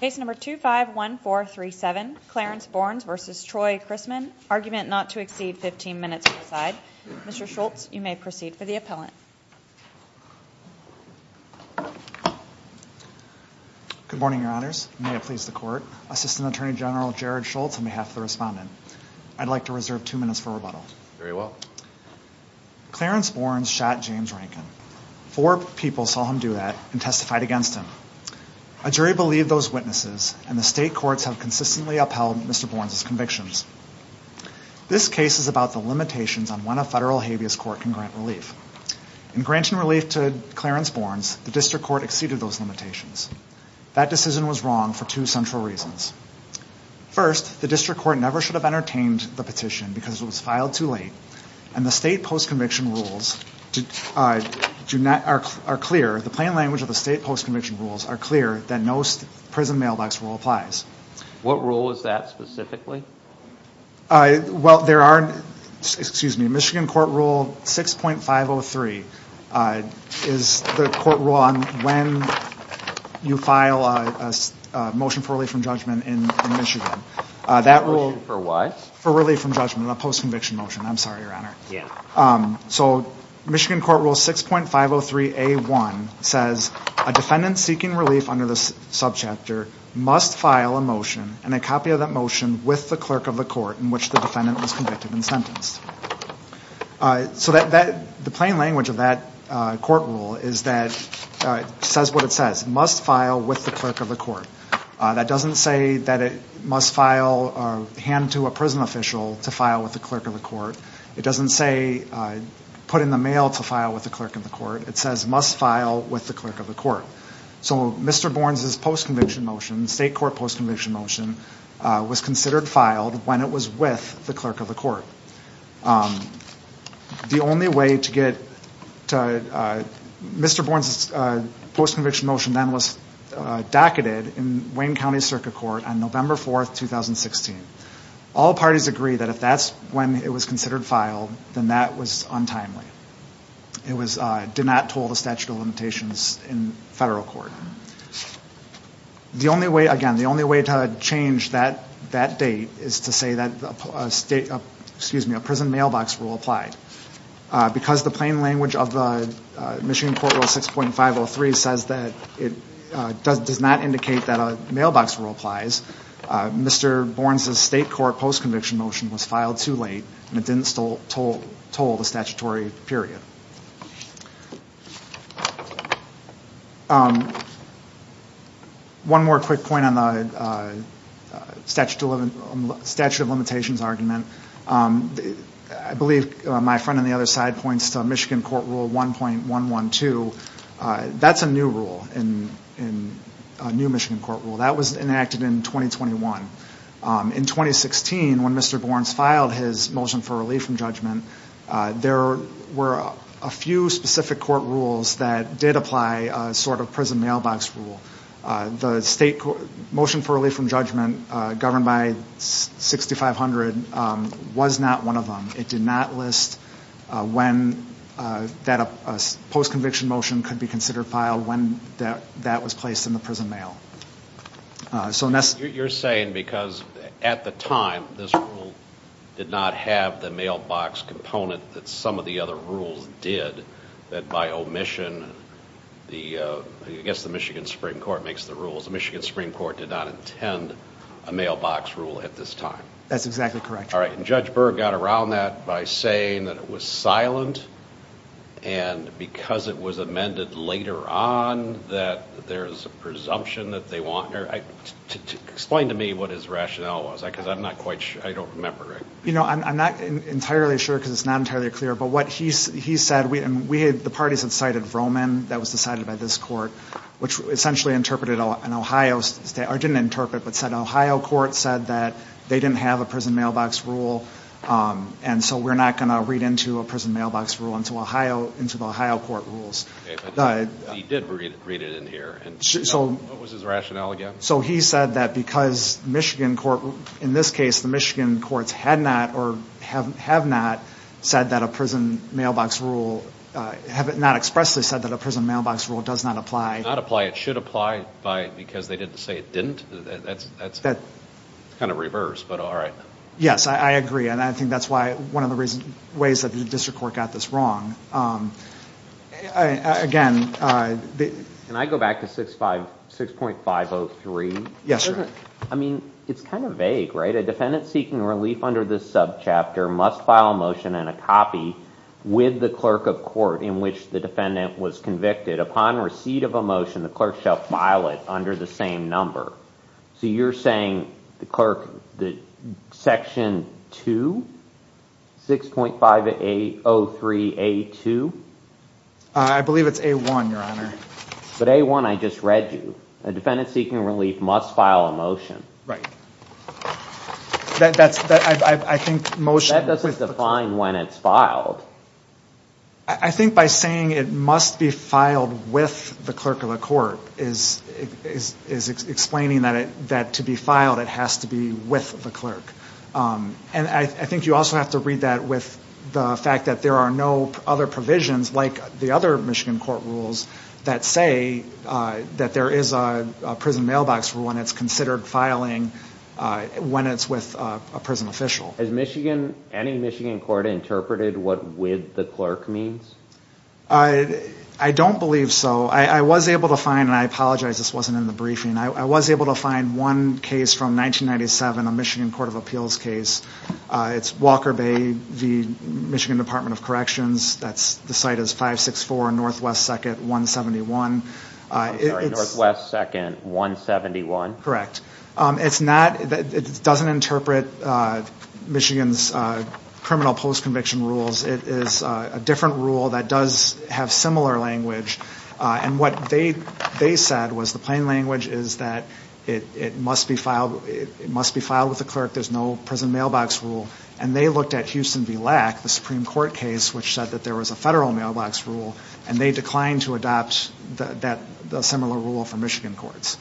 Case number two five one four three seven Clarence Borns versus Troy Chrisman argument not to exceed 15 minutes I'd mr. Schultz you may proceed for the appellant Good morning, your honors may it please the court assistant attorney general Jared Schultz on behalf of the respondent I'd like to reserve two minutes for rebuttal very well Clarence Borns shot James Rankin four people saw him do that and testified against him A jury believed those witnesses and the state courts have consistently upheld. Mr. Borns convictions This case is about the limitations on when a federal habeas court can grant relief In granting relief to Clarence Borns the district court exceeded those limitations that decision was wrong for two central reasons First the district court never should have entertained the petition because it was filed too late and the state post conviction rules Did I do not are clear the plain language of the state post-conviction rules are clear that most prison mailbox rule applies What rule is that specifically? Well, there are excuse me, Michigan court rule six point five. Oh three is the court rule on when? you file a motion for relief from judgment in Michigan that rule for what for relief from judgment a post conviction motion I'm sorry, your honor. Yeah, so Michigan court rule six point five. Oh three a one says a defendant seeking relief under this Subchapter must file a motion and a copy of that motion with the clerk of the court in which the defendant was convicted and sentenced So that that the plain language of that court rule is that? Says what it says must file with the clerk of the court That doesn't say that it must file or hand to a prison official to file with the clerk of the court. It doesn't say Put in the mail to file with the clerk of the court. It says must file with the clerk of the court So mr. Bourne's is post conviction motion state court post conviction motion was considered filed when it was with the clerk of the court The only way to get to Mr. Bourne's post conviction motion then was docketed in Wayne County Circuit Court on November 4th 2016 all parties agree that if that's when it was considered filed then that was untimely It was did not toll the statute of limitations in federal court The only way again the only way to change that that date is to say that the state excuse me a prison mailbox rule applied because the plain language of the Michigan court rule six point five. Oh three says that it does does not indicate that a mailbox rule applies Mr. Bourne's a state court post conviction motion was filed too late and it didn't stole toll toll the statutory period One more quick point on the statute of statute of limitations argument I believe my friend on the other side points to Michigan court rule one point one one two That's a new rule in in a new Michigan court rule that was enacted in 2021 In 2016 when mr. Bourne's filed his motion for relief from judgment There were a few specific court rules that did apply sort of prison mailbox rule the state motion for relief from judgment governed by 6500 was not one of them. It did not list when That a post conviction motion could be considered filed when that that was placed in the prison mail So Ness you're saying because at the time this rule Did not have the mailbox component that some of the other rules did that by omission the Guess the Michigan Supreme Court makes the rules the Michigan Supreme Court did not intend a mailbox rule at this time That's exactly correct. All right, and judge Berg got around that by saying that it was silent and because it was amended later on that there's a presumption that they want her I Explain to me what his rationale was because I'm not quite sure I don't remember it, you know I'm not entirely sure because it's not entirely clear But what he's he said we and we had the parties had cited Roman that was decided by this court Which essentially interpreted an Ohio state or didn't interpret but said Ohio court said that they didn't have a prison mailbox rule And so we're not going to read into a prison mailbox rule into Ohio into the Ohio court rules Did we read it in here? So he said that because Michigan court in this case the Michigan courts had not or have have not said that a prison mailbox rule Have it not expressly said that a prison mailbox rule does not apply not apply It should apply by because they didn't say it didn't that's that's that kind of reverse. But all right Yes, I agree. And I think that's why one of the reason ways that the district court got this wrong Again And I go back to six five six point five. Oh three. Yes I mean, it's kind of vague right a defendant seeking relief under this subchapter must file a motion and a copy With the clerk of court in which the defendant was convicted upon receipt of a motion the clerk shall file it under the same number So you're saying the clerk the section to six point five eight. Oh three a two I Believe it's a one your honor. So day one. I just read you a defendant seeking relief must file a motion, right? That that's I think most that doesn't define when it's filed. I think by saying it must be filed with the clerk of the court is Is explaining that it that to be filed it has to be with the clerk And I think you also have to read that with the fact that there are no other provisions like the other Michigan court rules that say That there is a prison mailbox for when it's considered filing When it's with a prison official as Michigan any Michigan court interpreted what with the clerk means? I Don't believe so I I was able to find and I apologize this wasn't in the briefing I was able to find one case from 1997 a Michigan Court of Appeals case It's Walker Bay the Michigan Department of Corrections. That's the site is five six four and Northwest second 171 West second 171 correct. It's not it doesn't interpret Michigan's Does have similar language And what they they said was the plain language is that it it must be filed it must be filed with the clerk There's no prison mailbox rule And they looked at Houston be lack the Supreme Court case which said that there was a federal mailbox rule And they declined to adopt that the similar rule for Michigan courts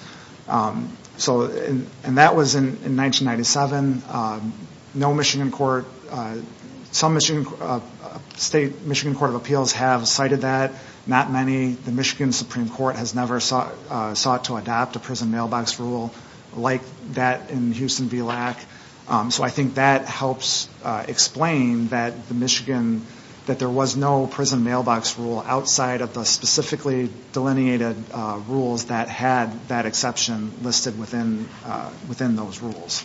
So and and that was in in 1997 No, Michigan Court some mission State Michigan Court of Appeals have cited that not many the Michigan Supreme Court has never sought Sought to adopt a prison mailbox rule like that in Houston be lack So I think that helps Explain that the Michigan that there was no prison mailbox rule outside of the specifically Delineated rules that had that exception listed within within those rules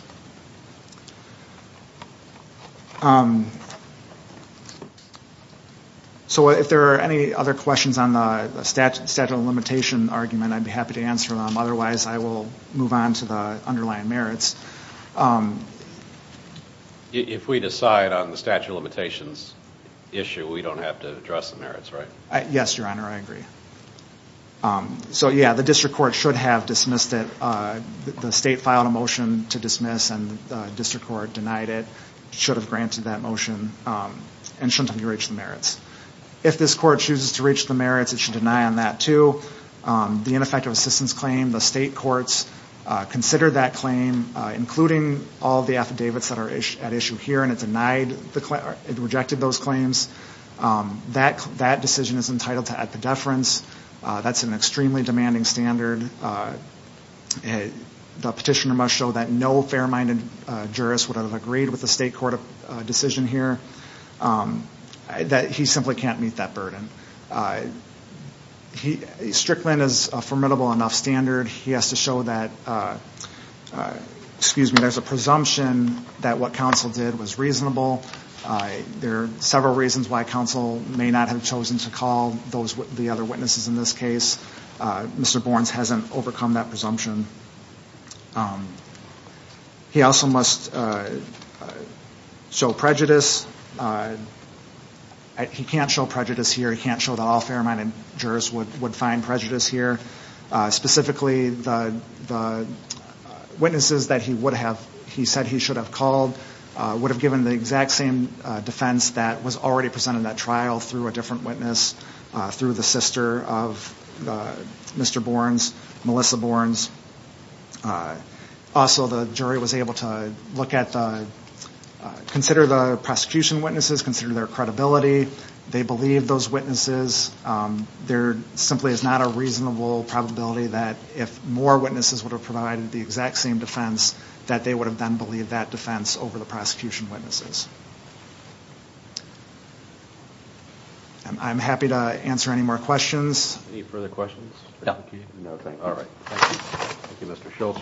So if there are any other questions on the statute statute of limitation argument I'd be happy to answer them. Otherwise, I will move on to the underlying merits If we decide on the statute of limitations Issue we don't have to address the merits, right? Yes, your honor. I agree So, yeah, the district court should have dismissed it The state filed a motion to dismiss and district court denied it should have granted that motion And shouldn't have to reach the merits if this court chooses to reach the merits it should deny on that to the ineffective assistance claim the state courts Consider that claim including all the affidavits that are at issue here and it denied the clout it rejected those claims That that decision is entitled to at the deference. That's an extremely demanding standard It the petitioner must show that no fair-minded Juris would have agreed with the state court of decision here That he simply can't meet that burden He Strickland is a formidable enough standard he has to show that Excuse me, there's a presumption that what counsel did was reasonable There are several reasons why counsel may not have chosen to call those with the other witnesses in this case Mr. Borns hasn't overcome that presumption He Also must Show prejudice He can't show prejudice here he can't show that all fair-minded jurors would would find prejudice here specifically the Witnesses that he would have he said he should have called Would have given the exact same defense that was already presented that trial through a different witness through the sister of Mr. Borns, Melissa Borns Also, the jury was able to look at the Consider the prosecution witnesses consider their credibility. They believe those witnesses There simply is not a reasonable Probability that if more witnesses would have provided the exact same defense that they would have done believe that defense over the prosecution witnesses I Am happy to answer any more questions any further questions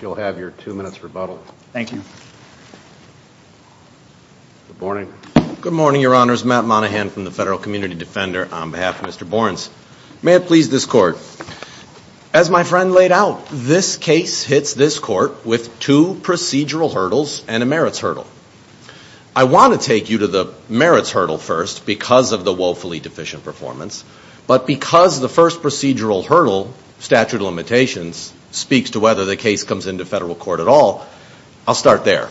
You'll have your two minutes rebuttal, thank you Good morning. Good morning. Your honor's Matt Monahan from the federal community defender on behalf of mr. Borns. May it please this court as My friend laid out this case hits this court with two procedural hurdles and a merits hurdle I Want to take you to the merits hurdle first because of the woefully deficient performance But because the first procedural hurdle statute of limitations speaks to whether the case comes into federal court at all I'll start there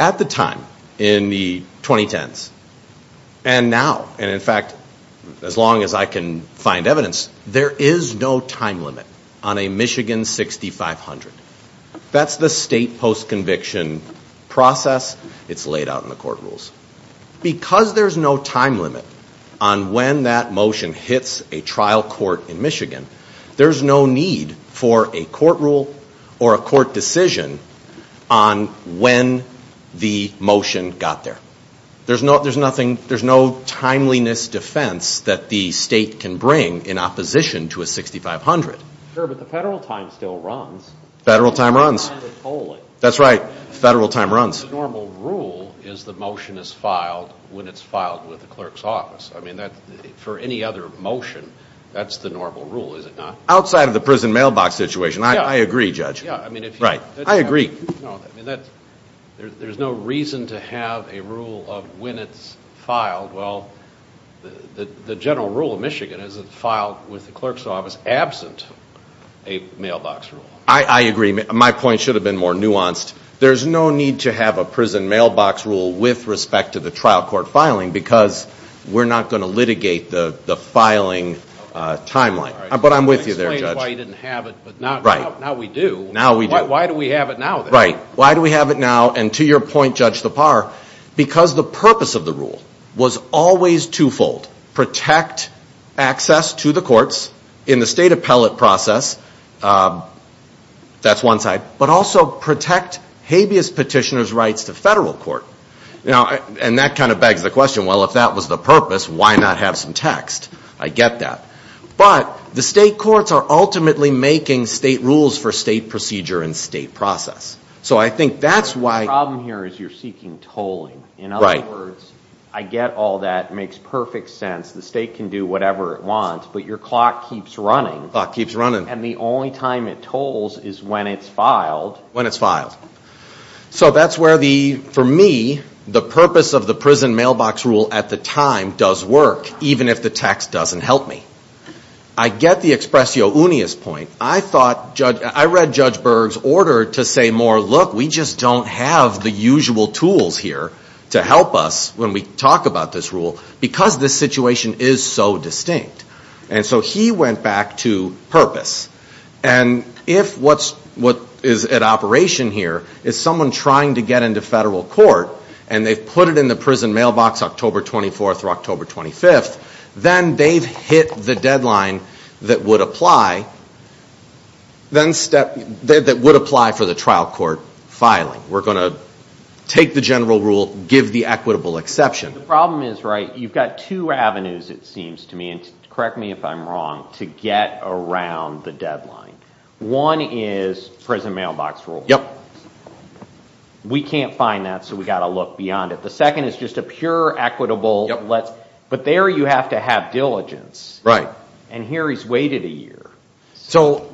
at the time in the 2010s and Now and in fact as long as I can find evidence there is no time limit on a Michigan 6500 that's the state post conviction Process it's laid out in the court rules Because there's no time limit on when that motion hits a trial court in Michigan There's no need for a court rule or a court decision on When the motion got there, there's no there's nothing There's no timeliness defense that the state can bring in opposition to a 6500 Federal time runs That's right federal time runs Is the motion is filed when it's filed with the clerk's office. I mean that for any other motion That's the normal rule is it not outside of the prison mailbox situation? I agree judge. Yeah, I mean if right I agree There's no reason to have a rule of when it's filed well the the general rule of Michigan is it filed with the clerk's office absent a Mailbox rule I I agree my point should have been more nuanced There's no need to have a prison mailbox rule with respect to the trial court filing because we're not going to litigate the the filing Timeline, but I'm with you there Right now we do now. Why do we have it now right? Why do we have it now and to your point judge the par because the purpose of the rule was always twofold protect Access to the courts in the state appellate process That's one side, but also protect habeas petitioners rights to federal court now, and that kind of begs the question well If that was the purpose why not have some text I get that But the state courts are ultimately making state rules for state procedure and state process So I think that's why problem here is you're seeking tolling in other words I get all that makes perfect sense the state can do whatever it wants But your clock keeps running clock keeps running and the only time it tolls is when it's filed when it's filed So that's where the for me the purpose of the prison mailbox rule at the time does work Even if the text doesn't help me I Get the expressio unius point I thought judge I read judge Berg's order to say more look We just don't have the usual tools here to help us when we talk about this rule because this situation is so distinct and so he went back to purpose and If what's what is at operation here is someone trying to get into federal court? And they've put it in the prison mailbox October 24th or October 25th Then they've hit the deadline that would apply Then step that would apply for the trial court filing we're going to Take the general rule give the equitable exception the problem is right You've got two avenues it seems to me and correct me if I'm wrong to get around the deadline One is prison mailbox rule. Yep We can't find that so we got a look beyond it. The second is just a pure equitable Let's but there you have to have diligence right and here. He's waited a year So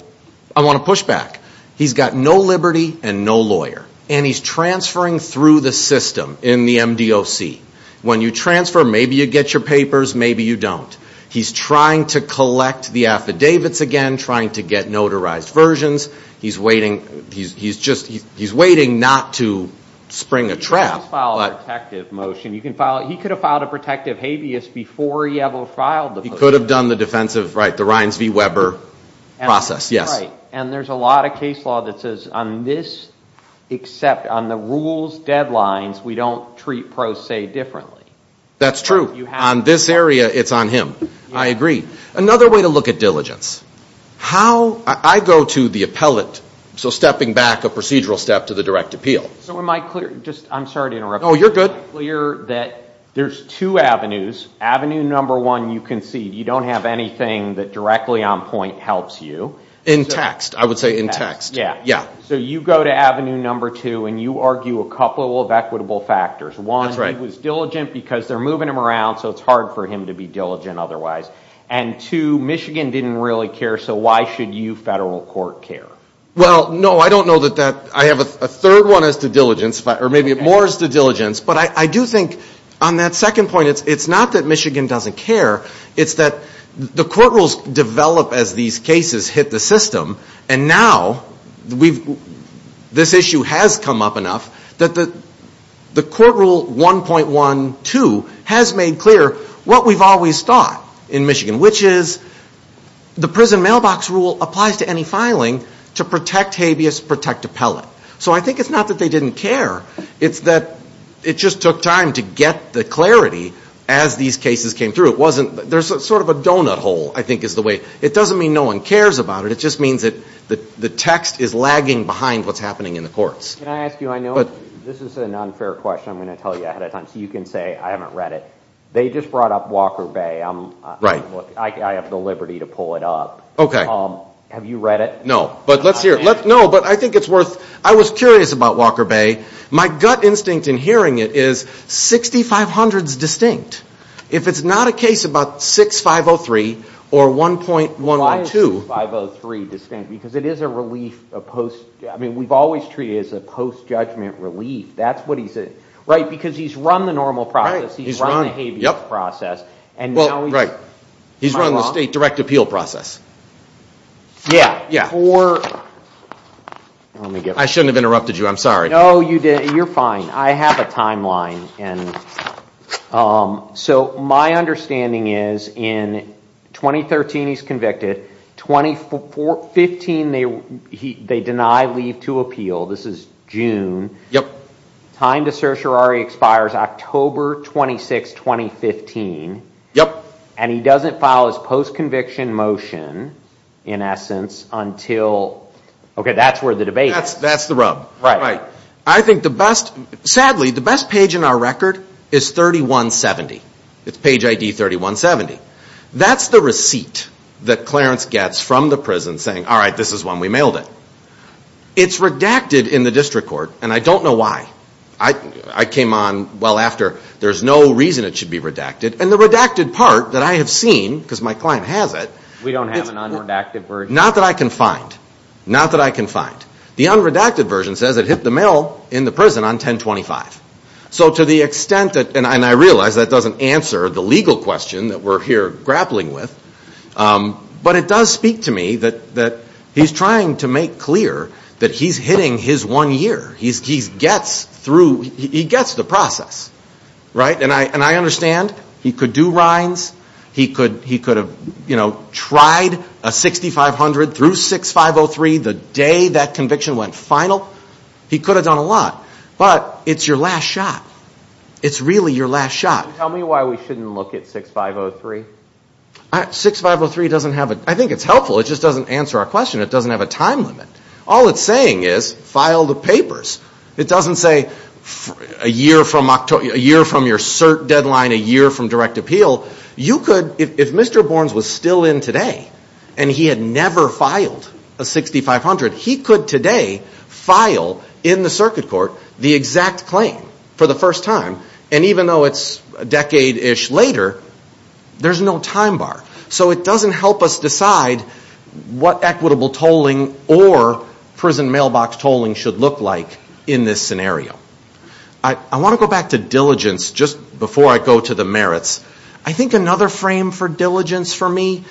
I want to push back He's got no Liberty and no lawyer, and he's transferring through the system in the MD OC when you transfer Maybe you get your papers. Maybe you don't he's trying to collect the affidavits again trying to get notarized versions He's waiting. He's just he's waiting not to Bring a trap Motion you can follow he could have filed a protective habeas before he ever filed He could have done the defensive right the Reins V Weber Process yes, and there's a lot of case law that says on this Except on the rules deadlines. We don't treat pro se differently. That's true on this area It's on him. I agree another way to look at diligence How I go to the appellate so stepping back a procedural step to the direct appeal So am I clear just I'm sorry to interrupt. Oh, you're good clear that there's two avenues Avenue number one You can see you don't have anything that directly on point helps you in text. I would say in text Yeah, yeah, so you go to Avenue number two and you argue a couple of equitable factors one It was diligent because they're moving him around so it's hard for him to be diligent otherwise and to Michigan didn't really care So why should you federal court care well? No, I don't know that that I have a third one as to diligence, but or maybe it mores the diligence But I do think on that second point. It's it's not that Michigan doesn't care It's that the court rules develop as these cases hit the system and now we've This issue has come up enough that the the court rule 1.12 has made clear what we've always thought in Michigan which is The prison mailbox rule applies to any filing to protect habeas protect appellate, so I think it's not that they didn't care It's that it just took time to get the clarity as these cases came through it wasn't there's sort of a donut hole I think is the way it doesn't mean no one cares about it It just means that the the text is lagging behind what's happening in the courts Can I ask you I know but this is an unfair question I'm gonna tell you ahead of time so you can say I haven't read it. They just brought up Walker Bay Right I have the liberty to pull it up, okay Have you read it no, but let's hear it. No, but I think it's worth I was curious about Walker Bay my gut instinct in hearing it is 6500s distinct if it's not a case about six five oh three or one point one line two five Oh three distinct because it is a relief a post. I mean we've always treated as a post judgment relief That's what he said right because he's run the normal process. He's running a process and well, right He's running the state direct appeal process Yeah, yeah, or Let me get I shouldn't have interrupted you. I'm sorry. No you did you're fine. I have a timeline and So my understanding is in 2013 he's convicted 24 15 they he they deny leave to appeal this is June yep time to certiorari expires October 26 2015 yep, and he doesn't file his post conviction motion in essence until Okay, that's where the debate. That's that's the rub right right. I think the best sadly the best page in our record is 3170 it's page ID 3170 that's the receipt that Clarence gets from the prison saying all right. This is when we mailed it It's redacted in the district court, and I don't know why I I came on well after there's no reason It should be redacted and the redacted part that I have seen because my client has it We don't have an unredacted bird not that I can find Not that I can find the unredacted version says it hit the mail in the prison on 1025 So to the extent that and I realize that doesn't answer the legal question that we're here grappling with But it does speak to me that that he's trying to make clear that he's hitting his one year He's he's gets through he gets the process Right and I and I understand he could do rinds He could he could have you know tried a 6500 through 6503 the day that conviction went final He could have done a lot, but it's your last shot. It's really your last shot. Tell me why we shouldn't look at 6503 6503 doesn't have it. I think it's helpful. It just doesn't answer our question It doesn't have a time limit all it's saying is file the papers It doesn't say a year from October a year from your cert deadline a year from direct appeal You could if mr. Burns was still in today, and he had never filed a 6500 he could today File in the circuit court the exact claim for the first time and even though it's a decade ish later There's no time bar, so it doesn't help us decide what equitable tolling or Prison mailbox tolling should look like in this scenario. I Want to go back to diligence just before I go to the merits I think another frame for diligence for me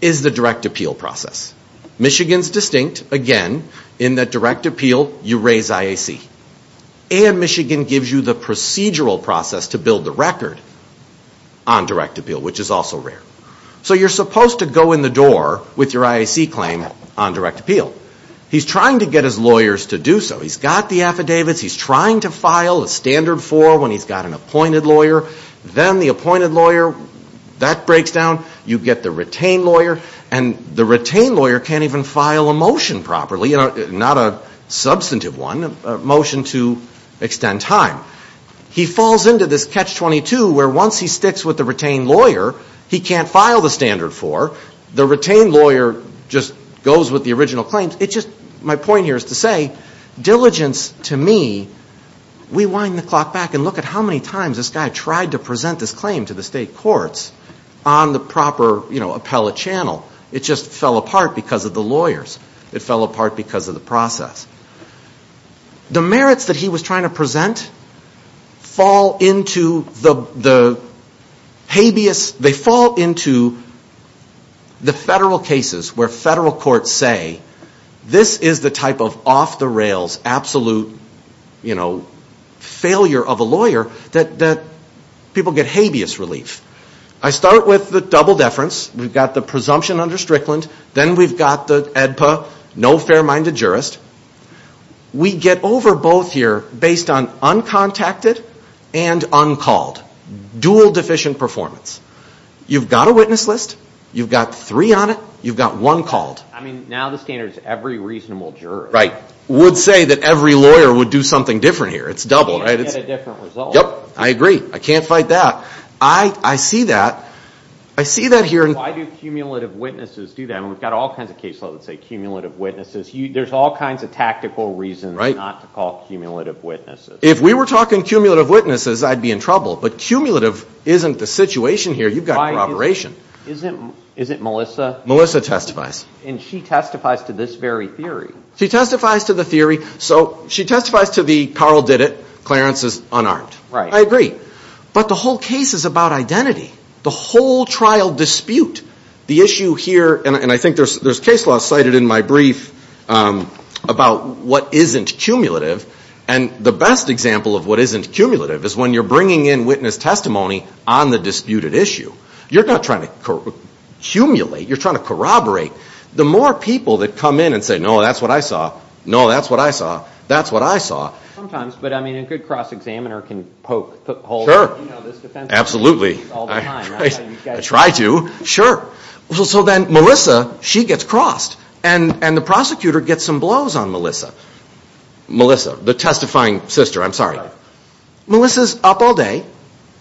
is the direct appeal process Michigan's distinct again in that direct appeal you raise IAC And Michigan gives you the procedural process to build the record on Direct appeal which is also rare, so you're supposed to go in the door with your IAC claim on direct appeal He's trying to get his lawyers to do so he's got the affidavits He's trying to file a standard for when he's got an appointed lawyer then the appointed lawyer that breaks down you get the retained lawyer and the retained lawyer can't even file a motion properly you know not a substantive one motion to extend time He falls into this catch-22 where once he sticks with the retained lawyer He can't file the standard for the retained lawyer just goes with the original claims. It's just my point here is to say Diligence to me We wind the clock back and look at how many times this guy tried to present this claim to the state courts on The proper you know appellate channel. It just fell apart because of the lawyers it fell apart because of the process the merits that he was trying to present fall into the the habeas they fall into The federal cases where federal courts say this is the type of off-the-rails absolute you know Failure of a lawyer that that people get habeas relief. I start with the double deference We've got the presumption under Strickland, then we've got the ADPA no fair-minded jurist We get over both here based on uncontacted and uncalled dual deficient performance You've got a witness list you've got three on it. You've got one called I mean now the standards every reasonable juror right would say that every lawyer would do something different here. It's double right Yep, I agree. I can't fight that I I see that I see that here And I do cumulative witnesses do that and we've got all kinds of caseload that say cumulative witnesses You there's all kinds of tactical reasons right not to call cumulative witnesses if we were talking cumulative witnesses I'd be in trouble, but cumulative isn't the situation here. You've got my operation Is it is it Melissa Melissa testifies and she testifies to this very theory she testifies to the theory so she testifies to the Carl? Did it Clarence is unarmed right I agree? But the whole case is about identity the whole trial dispute the issue here, and I think there's there's case law cited in my brief About what isn't cumulative and the best example of what isn't cumulative is when you're bringing in witness testimony on the Disputed issue you're not trying to Cumulate you're trying to corroborate the more people that come in and say no. That's what I saw. No. That's what I saw That's what I saw sometimes, but I mean a good cross-examiner can poke sure absolutely I Try to sure well, so then Melissa she gets crossed and and the prosecutor gets some blows on Melissa Melissa the testifying sister, I'm sorry Melissa's up all day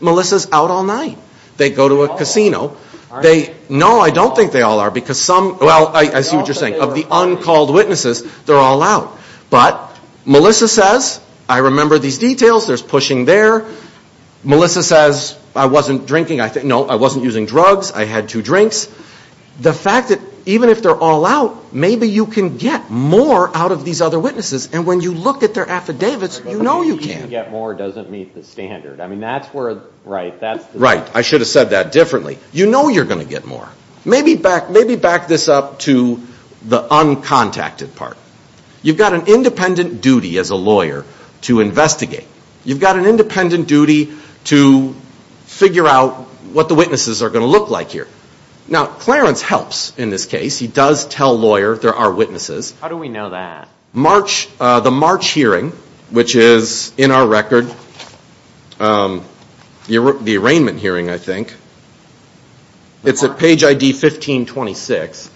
Melissa's out all night. They go to a casino They know I don't think they all are because some well. I see what you're saying of the uncalled witnesses They're all out, but Melissa says I remember these details. There's pushing there Melissa says I wasn't drinking. I think no I wasn't using drugs. I had two drinks The fact that even if they're all out Maybe you can get more out of these other witnesses and when you look at their affidavits You know you can't get more doesn't meet the standard. I mean, that's where right that's right I should have said that differently. You know you're gonna get more maybe back. Maybe back this up to the Uncontacted part you've got an independent duty as a lawyer to investigate you've got an independent duty to Figure out what the witnesses are going to look like here now Clarence helps in this case. He does tell lawyer There are witnesses. How do we know that March the March hearing which is in our record? You're the arraignment hearing I think It's a page ID 1526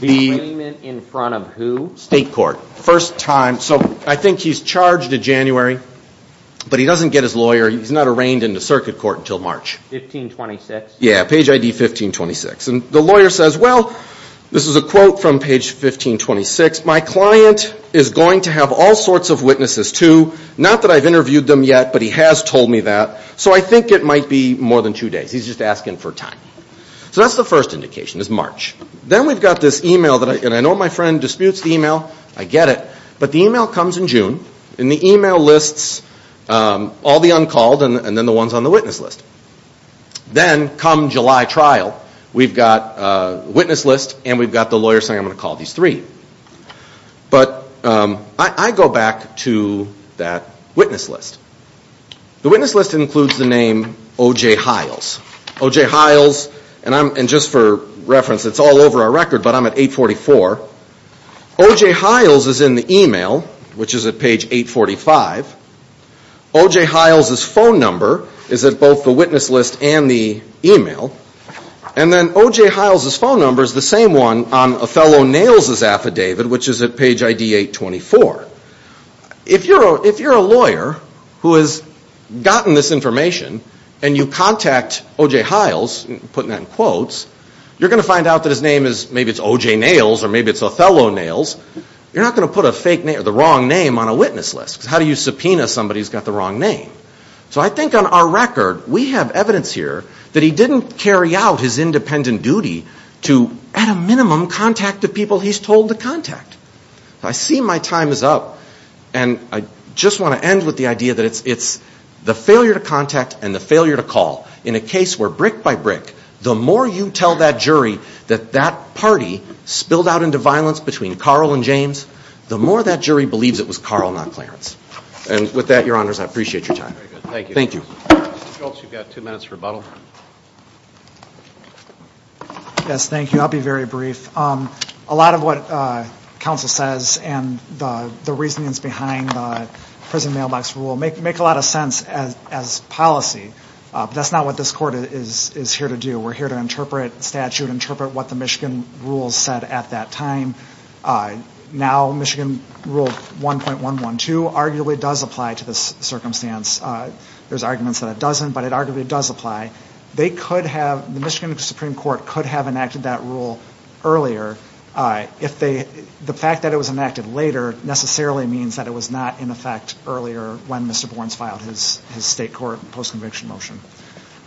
The In front of who state court first time so I think he's charged in January But he doesn't get his lawyer. He's not arraigned in the circuit court until March Yeah, page ID 1526 and the lawyer says well. This is a quote from page 1526 my client is going to have all sorts of witnesses to not that I've interviewed them yet But he has told me that so I think it might be more than two days. He's just asking for time So that's the first indication is March, then we've got this email that I can I know my friend disputes the email I get it, but the email comes in June in the email lists All the uncalled and then the ones on the witness list Then come July trial we've got a witness list and we've got the lawyer saying I'm going to call these three But I go back to that witness list The witness list includes the name OJ Hiles OJ Hiles, and I'm and just for reference It's all over our record, but I'm at 844 OJ Hiles is in the email which is at page 845 OJ Hiles his phone number is that both the witness list and the email and Then OJ Hiles his phone number is the same one on a fellow nails his affidavit, which is at page ID 824 If you're if you're a lawyer who has Gotten this information and you contact OJ Hiles putting that in quotes You're gonna find out that his name is maybe it's OJ nails or maybe it's Othello nails You're not gonna put a fake name the wrong name on a witness list How do you subpoena somebody's got the wrong name? So I think on our record we have evidence here that he didn't carry out his independent duty to at a minimum Contact of people he's told to contact I see my time is up And I just want to end with the idea that it's it's the failure to contact and the failure to call in a case We're brick by brick the more you tell that jury that that party spilled out into violence between Carl and James The more that jury believes it was Carl not Clarence and with that your honors. I appreciate your time. Thank you. Thank you You've got two minutes rebuttal Yes, thank you, I'll be very brief a lot of what Council says and the the reasonings behind Prison mailbox rule make make a lot of sense as as policy That's not what this court is is here to do. We're here to interpret statute interpret what the Michigan rules said at that time Now Michigan rule 1.1 1 2 arguably does apply to this circumstance There's arguments that it doesn't but it arguably does apply they could have the Michigan Supreme Court could have enacted that rule earlier If they the fact that it was enacted later necessarily means that it was not in effect earlier when mr Bourne's filed his his state court post conviction motion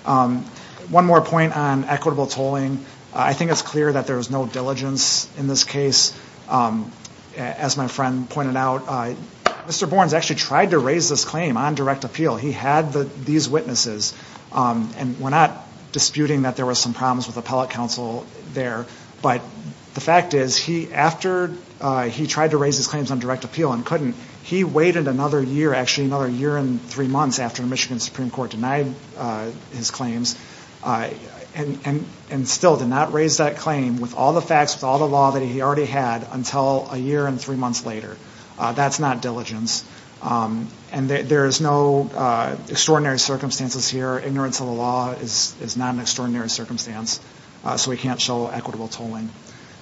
One more point on equitable tolling. I think it's clear that there was no diligence in this case As my friend pointed out Mr. Bourne's actually tried to raise this claim on direct appeal. He had the these witnesses And we're not disputing that there was some problems with appellate counsel there But the fact is he after he tried to raise his claims on direct appeal and couldn't he waited another year actually another year And three months after the Michigan Supreme Court denied his claims And and and still did not raise that claim with all the facts with all the law that he already had until a year and three months later, that's not diligence And there is no Extraordinary circumstances here ignorance of the law is is not an extraordinary circumstance So we can't show equitable tolling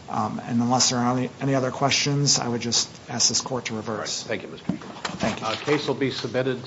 And unless there are any any other questions, I would just ask this court to reverse. Thank you. Mr. Case will be submitted